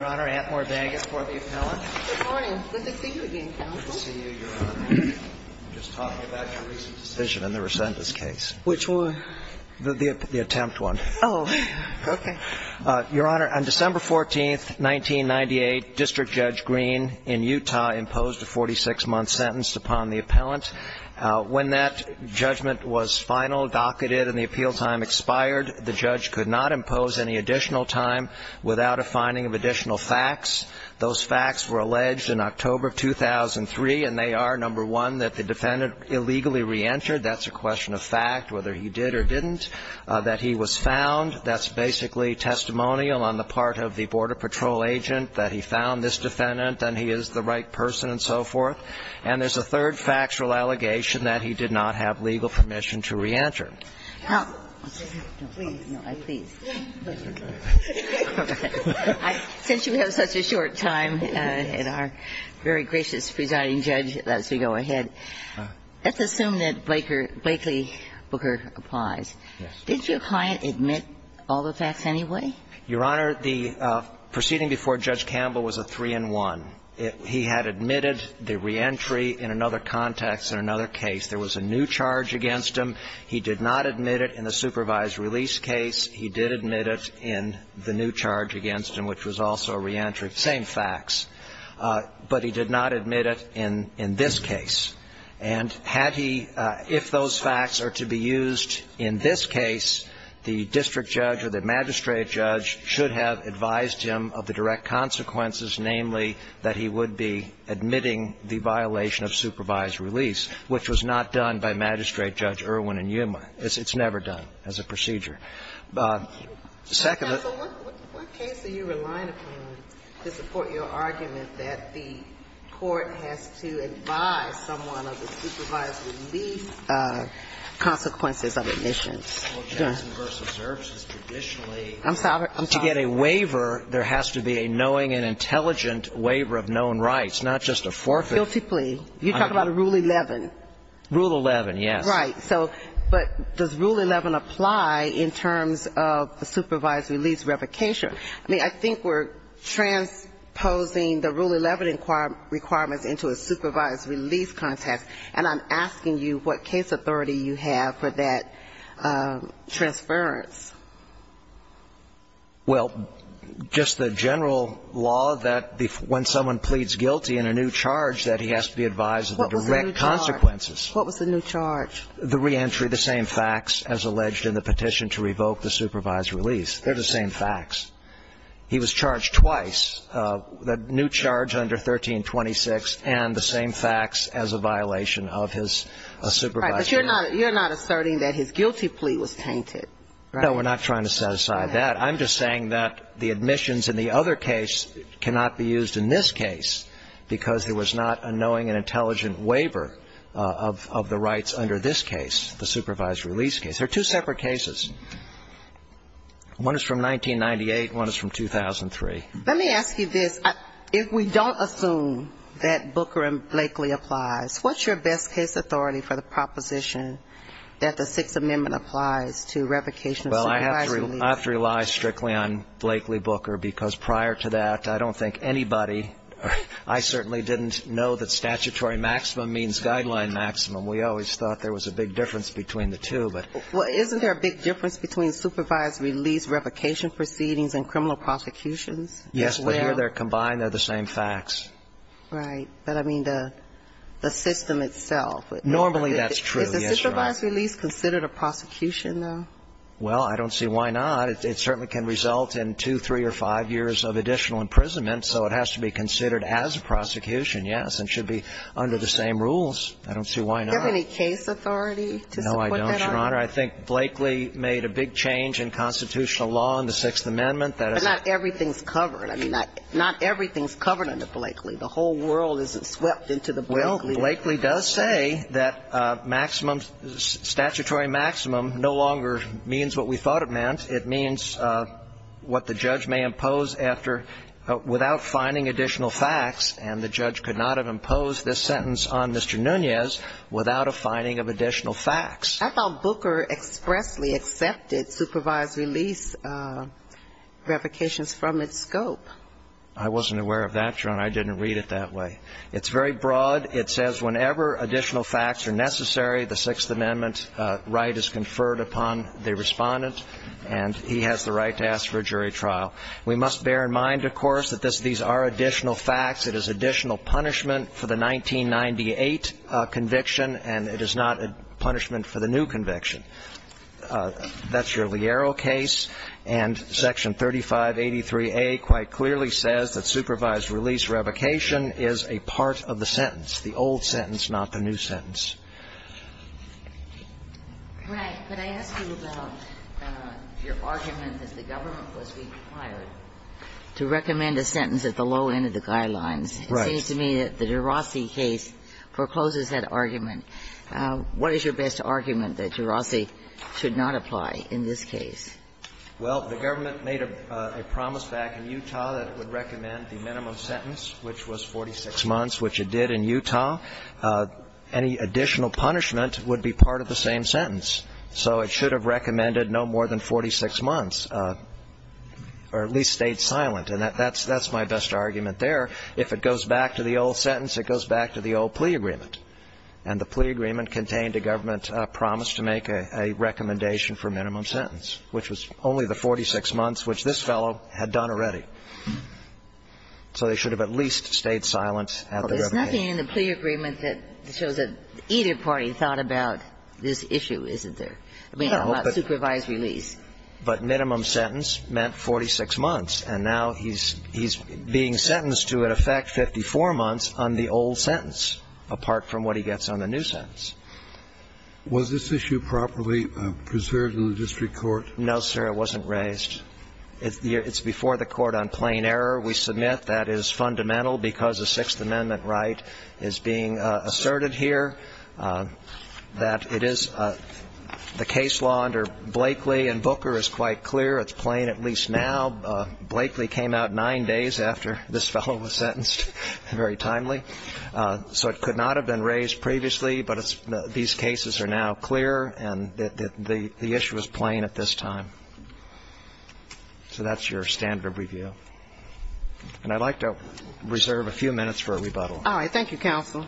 Your Honor, Antmore Baggett for the appellant. Good morning. Good to see you again, counsel. Good to see you, Your Honor. I'm just talking about your recent decision in the resentence case. Which one? The attempt one. Oh, okay. Your Honor, on December 14th, 1998, District Judge Green in Utah imposed a 46-month sentence upon the appellant. When that judgment was final, docketed, and the appeal time expired, the judge could not impose any additional time without a finding of additional facts. Those facts were alleged in October of 2003, and they are, number one, that the defendant illegally reentered. That's a question of fact, whether he did or didn't. That he was found. That's basically testimonial on the part of the Border Patrol agent that he found this defendant and he is the right person and so forth. And there's a third factual allegation that he did not have legal permission to reenter. Since you have such a short time and are very gracious, Presiding Judge, as we go ahead, let's assume that Blakely Booker applies. Yes. Did your client admit all the facts anyway? Your Honor, the proceeding before Judge Campbell was a 3-in-1. He had admitted the reentry in another context in another case. He did not have legal permission. He did not admit it in the supervised release case. He did admit it in the new charge against him, which was also a reentry. Same facts. But he did not admit it in this case. And had he, if those facts are to be used in this case, the district judge or the magistrate judge should have advised him of the direct consequences, namely, that he would be admitting the violation of supervised release, which was not done by Magistrate Judge Irwin and Yuma. It's never done as a procedure. Second, the ---- So what case are you relying upon to support your argument that the court has to advise someone of the supervised release consequences of admissions? Well, Jackson v. Zerch is traditionally ---- I'm sorry. To get a waiver, there has to be a knowing and intelligent waiver of known rights, not just a forfeit. Guilty plea. You talk about Rule 11. Rule 11, yes. Right. So, but does Rule 11 apply in terms of the supervised release revocation? I mean, I think we're transposing the Rule 11 requirements into a supervised release context. And I'm asking you what case authority you have for that transference. Well, just the general law that when someone pleads guilty in a new charge that he has to be advised of the direct consequences. What was the new charge? The reentry, the same facts as alleged in the petition to revoke the supervised release. They're the same facts. He was charged twice, the new charge under 1326 and the same facts as a violation of his supervised release. Right. But you're not asserting that his guilty plea was tainted, right? No, we're not trying to set aside that. I'm just saying that the admissions in the other case cannot be used in this case because there was not a knowing and intelligent waiver of the rights under this case, the supervised release case. They're two separate cases. One is from 1998. One is from 2003. Let me ask you this. If we don't assume that Booker and Blakely applies, what's your best case authority for the proposition that the Sixth Amendment applies to revocation of supervised release? Well, I have to rely strictly on Blakely-Booker because prior to that, I don't think anybody or I certainly didn't know that statutory maximum means guideline maximum. We always thought there was a big difference between the two. Well, isn't there a big difference between supervised release, revocation proceedings and criminal prosecutions? Yes, but here they're combined. They're the same facts. Right. But, I mean, the system itself. Normally, that's true. Is the supervised release considered a prosecution, though? Well, I don't see why not. It certainly can result in two, three or five years of additional imprisonment, so it has to be considered as a prosecution, yes, and should be under the same rules. I don't see why not. Do you have any case authority to support that? No, I don't, Your Honor. I think Blakely made a big change in constitutional law in the Sixth Amendment. But not everything's covered. I mean, not everything's covered under Blakely. The whole world isn't swept into the Blakely. Well, Blakely does say that maximum, statutory maximum no longer means what we thought it meant. It means what the judge may impose after, without finding additional facts, and the judge could not have imposed this sentence on Mr. Nunez without a finding of additional facts. I thought Booker expressly accepted supervised release revocations from its scope. I wasn't aware of that, Your Honor. I didn't read it that way. It's very broad. It says whenever additional facts are necessary, the Sixth Amendment right is conferred upon the respondent, and he has the right to ask for a jury trial. We must bear in mind, of course, that these are additional facts. It is additional punishment for the 1998 conviction, and it is not a punishment for the new conviction. That's your Liero case, and Section 3583A quite clearly says that supervised release revocation is a part of the sentence, the old sentence, not the new sentence. Right. But I ask you about your argument that the government was required to recommend a sentence at the low end of the guidelines. Right. It seems to me that the de Rossi case forecloses that argument. What is your best argument that de Rossi should not apply in this case? Well, the government made a promise back in Utah that it would recommend the minimum sentence, which was 46 months, which it did in Utah. Any additional punishment would be part of the same sentence. So it should have recommended no more than 46 months, or at least stayed silent. And that's my best argument there. If it goes back to the old sentence, it goes back to the old plea agreement. And the plea agreement contained a government promise to make a recommendation for minimum sentence, which was only the 46 months, which this fellow had done already. So they should have at least stayed silent at the revocation. Well, there's nothing in the plea agreement that shows that either party thought about this issue, isn't there? I mean, about supervised release. But minimum sentence meant 46 months. And now he's being sentenced to, in effect, 54 months on the old sentence, apart from what he gets on the new sentence. Was this issue properly preserved in the district court? No, sir. It wasn't raised. It's before the court on plain error. We submit that is fundamental because a Sixth Amendment right is being asserted here, that it is the case law under Blakeley and Booker is quite clear. It's plain at least now. Blakeley came out nine days after this fellow was sentenced, very timely. So it could not have been raised previously, but these cases are now clear, and the issue is plain at this time. So that's your standard of review. And I'd like to reserve a few minutes for a rebuttal. All right. Thank you, counsel.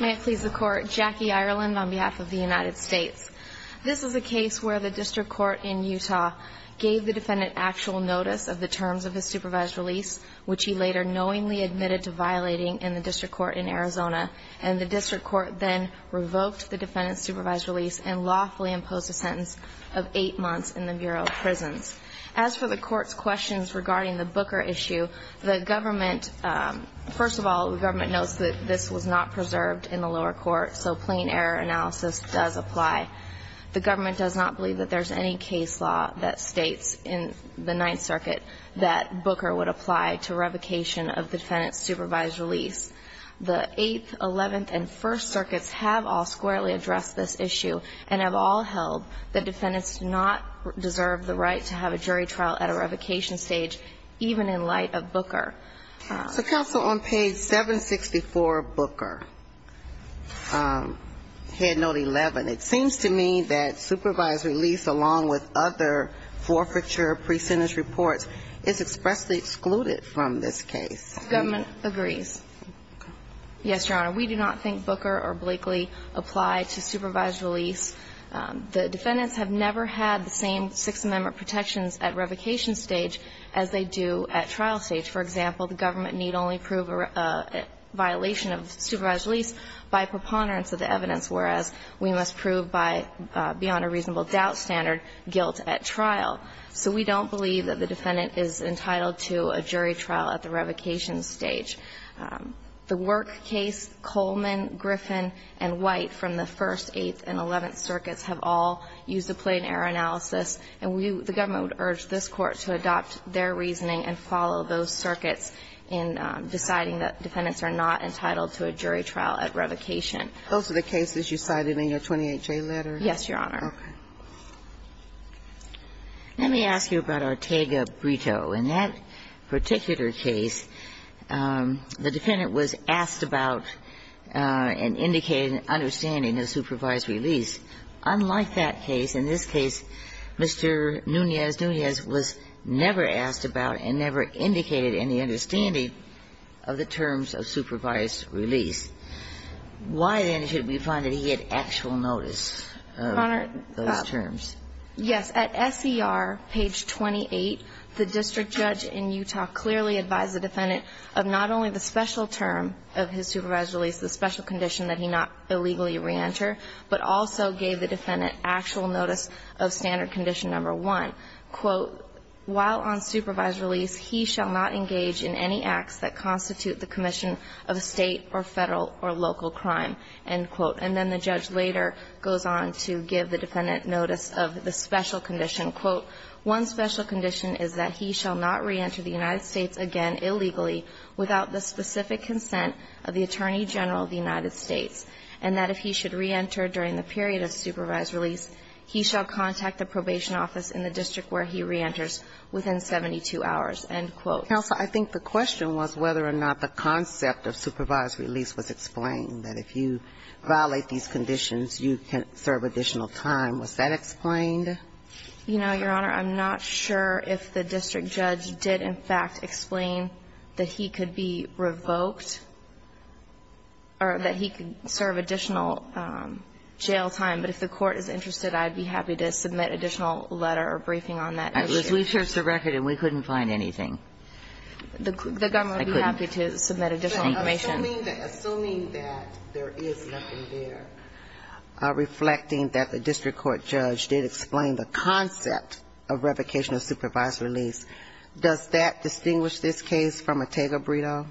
May it please the Court. Jackie Ireland on behalf of the United States. This is a case where the district court in Utah gave the defendant actual notice of the terms of his supervised release, which he later knowingly admitted to violating in the district court in Arizona. And the district court then revoked the defendant's supervised release and lawfully imposed a sentence of eight months in the Bureau of Prisons. As for the Court's questions regarding the Booker issue, the government, first of all, the government knows that this was not preserved in the lower court, so plain error analysis does apply. The government does not believe that there's any case law that states in the Ninth Circuit that Booker would apply to revocation of the defendant's supervised release. The Eighth, Eleventh, and First Circuits have all squarely addressed this issue and have all held that defendants do not deserve the right to have a jury trial at a revocation stage, even in light of Booker. So, counsel, on page 764 of Booker, Head Note 11, it seems to me that supervised release, along with other forfeiture, pre-sentence reports, is expressly excluded from this case. The government agrees. Yes, Your Honor. We do not think Booker or Blakely apply to supervised release. The defendants have never had the same Sixth Amendment protections at revocation stage as they do at trial stage. For example, the government need only prove a violation of supervised release by preponderance of the evidence, whereas we must prove by beyond a reasonable doubt standard guilt at trial. So we don't believe that the defendant is entitled to a jury trial at the revocation stage. The Work case, Coleman, Griffin, and White from the First, Eighth, and Eleventh Circuits have all used a plain error analysis, and we, the government would urge this Court to adopt their reasoning and follow those circuits in deciding that defendants are not entitled to a jury trial at revocation. Those are the cases you cited in your 28-J letter? Yes, Your Honor. Okay. Let me ask you about Ortega-Brito. In that particular case, the defendant was asked about and indicated an understanding of supervised release. Unlike that case, in this case, Mr. Nunez-Nunez was never asked about and never indicated any understanding of the terms of supervised release. Why, then, should we find that he had actual notice of those terms? Yes. At SER page 28, the district judge in Utah clearly advised the defendant of not only the special term of his supervised release, the special condition that he not illegally reenter, but also gave the defendant actual notice of standard condition number one, quote, while on supervised release, he shall not engage in any acts that constitute the commission of a state or federal or local crime, end quote. And then the judge later goes on to give the defendant notice of the special condition, quote, one special condition is that he shall not reenter the United States again illegally without the specific consent of the Attorney General of the United States, and that if he should reenter during the period of supervised release, he shall contact the probation office in the district where he reenters within 72 hours, end quote. Counsel, I think the question was whether or not the concept of supervised release was explained, that if you violate these conditions, you can serve additional time. Was that explained? You know, Your Honor, I'm not sure if the district judge did, in fact, explain that he could be revoked or that he could serve additional jail time. But if the Court is interested, I'd be happy to submit additional letter or briefing on that issue. At least we searched the record and we couldn't find anything. The government would be happy to submit additional information. Assuming that there is nothing there reflecting that the district court judge did explain the concept of revocation of supervised release, does that distinguish this case from a Tega-Bredo?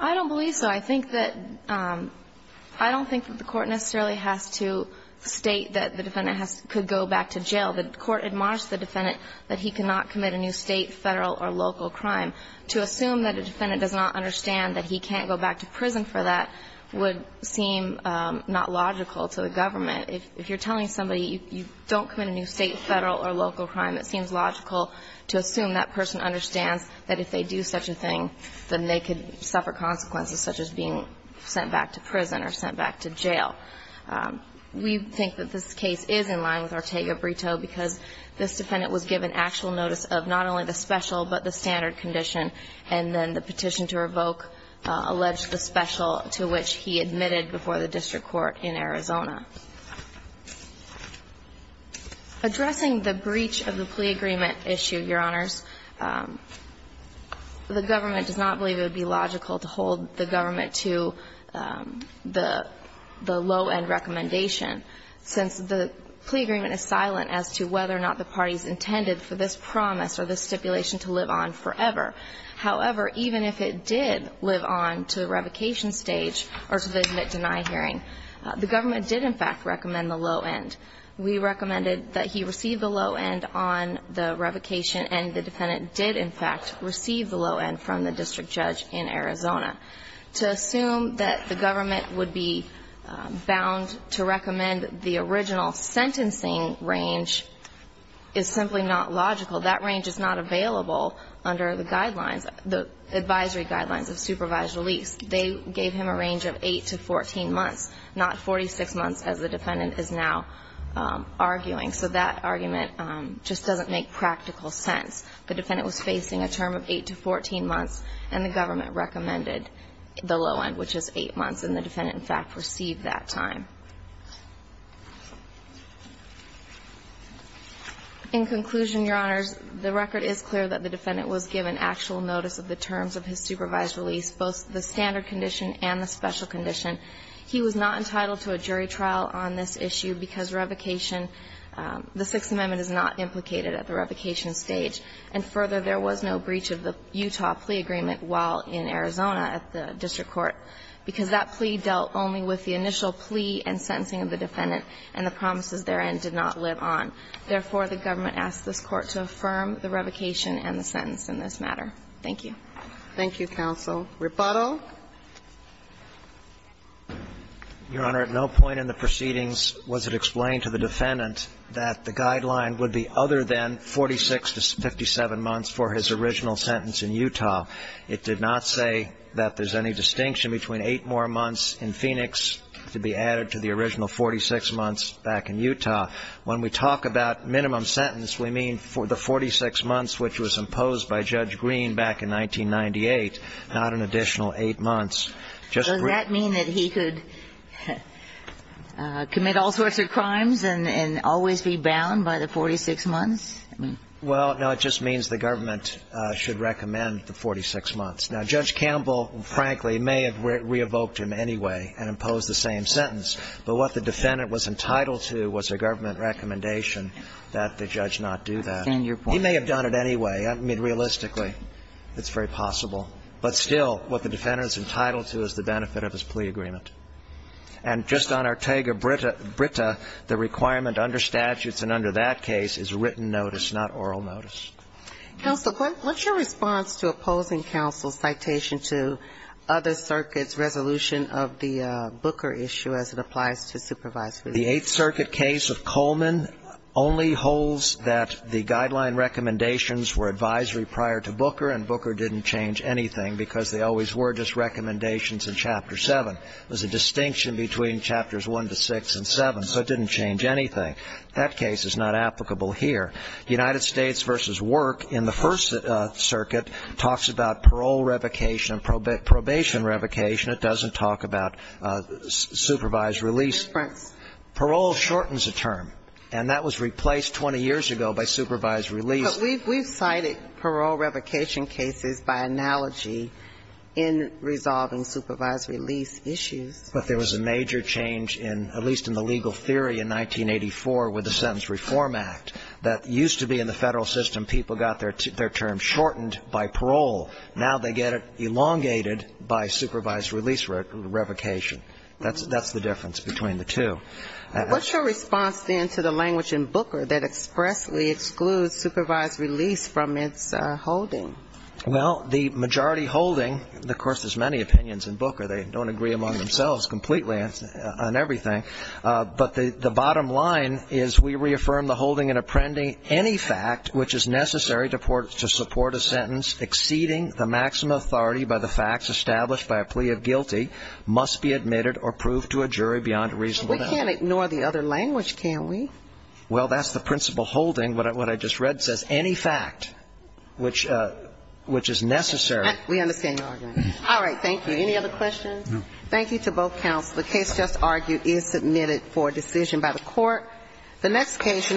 I don't believe so. I think that the Court necessarily has to state that the defendant could go back to jail. The Court admonished the defendant that he cannot commit a new State, Federal or local crime. To assume that a defendant does not understand that he can't go back to prison for that would seem not logical to the government. If you're telling somebody you don't commit a new State, Federal or local crime, it seems logical to assume that person understands that if they do such a thing, then they could suffer consequences such as being sent back to prison or sent back to jail. We think that this case is in line with our Tega-Bredo because this defendant was given actual notice of not only the special but the standard condition, and then the petition to revoke alleged the special to which he admitted before the district court in Arizona. Addressing the breach of the plea agreement issue, Your Honors, the government does not believe it would be logical to hold the government to the low end recommendation since the plea agreement is silent as to whether or not the parties intended for this promise or this stipulation to live on forever. However, even if it did live on to revocation stage or to the admit-deny hearing, the government did in fact recommend the low end. We recommended that he receive the low end on the revocation, and the defendant did in fact receive the low end from the district judge in Arizona. To assume that the government would be bound to recommend the original sentencing range is simply not logical. That range is not available under the guidelines, the advisory guidelines of supervised release. They gave him a range of 8 to 14 months, not 46 months as the defendant is now arguing. So that argument just doesn't make practical sense. The defendant was facing a term of 8 to 14 months, and the government recommended the low end, which is 8 months, and the defendant in fact received that time. In conclusion, Your Honors, the record is clear that the defendant was given actual notice of the terms of his supervised release, both the standard condition and the special condition. He was not entitled to a jury trial on this issue because revocation, the Sixth Amendment is not implicated at the revocation stage. And further, there was no breach of the Utah plea agreement while in Arizona at the district court, because that plea dealt only with the initial plea and sentencing of the defendant, and the promises therein did not live on. Therefore, the government asked this Court to affirm the revocation and the sentence in this matter. Thank you. Thank you, counsel. Rebuttal. Your Honor, at no point in the proceedings was it explained to the defendant that the guideline would be other than 46 to 57 months for his original sentence in Utah. It did not say that there's any distinction between 8 more months in Phoenix to be added to the original 46 months back in Utah. When we talk about minimum sentence, we mean for the 46 months which was imposed by Judge Green back in 1998, not an additional 8 months. Does that mean that he could commit all sorts of crimes and always be bound by the 46 months? Well, no. It just means the government should recommend the 46 months. Now, Judge Campbell, frankly, may have re-evoked him anyway and imposed the same sentence, but what the defendant was entitled to was a government recommendation that the judge not do that. He may have done it anyway. I mean, realistically, it's very possible. But still, what the defendant is entitled to is the benefit of his plea agreement. And just on Ortega-Britta, the requirement under statutes and under that case is written notice, not oral notice. Counsel, what's your response to opposing counsel's citation to other circuits' resolution of the Booker issue as it applies to supervisory? The Eighth Circuit case of Coleman only holds that the guideline recommendations were advisory prior to Booker and Booker didn't change anything because they always were just recommendations in Chapter 7. It was a distinction between Chapters 1 to 6 and 7, so it didn't change anything. That case is not applicable here. United States v. Work in the First Circuit talks about parole revocation and probation revocation. It doesn't talk about supervised release. Right. Parole shortens a term, and that was replaced 20 years ago by supervised release. But we've cited parole revocation cases by analogy in resolving supervised release issues. But there was a major change in, at least in the legal theory in 1984 with the Sentence Reform Act that used to be in the Federal system people got their term shortened by parole. Now they get it elongated by supervised release revocation. That's the difference between the two. What's your response, then, to the language in Booker that expressly excludes supervised release from its holding? Well, the majority holding, of course, there's many opinions in Booker. They don't agree among themselves completely on everything. But the bottom line is we reaffirm the holding in appending any fact which is necessary to support a sentence exceeding the maximum authority by the facts established by a plea of guilty must be admitted or proved to a jury beyond a reasonable doubt. But we can't ignore the other language, can we? Well, that's the principle holding. What I just read says any fact which is necessary. We understand your argument. All right. Thank you. Any other questions? No. Thank you to both counsel. The next case in the room is a case that was submitted by the Supreme Court.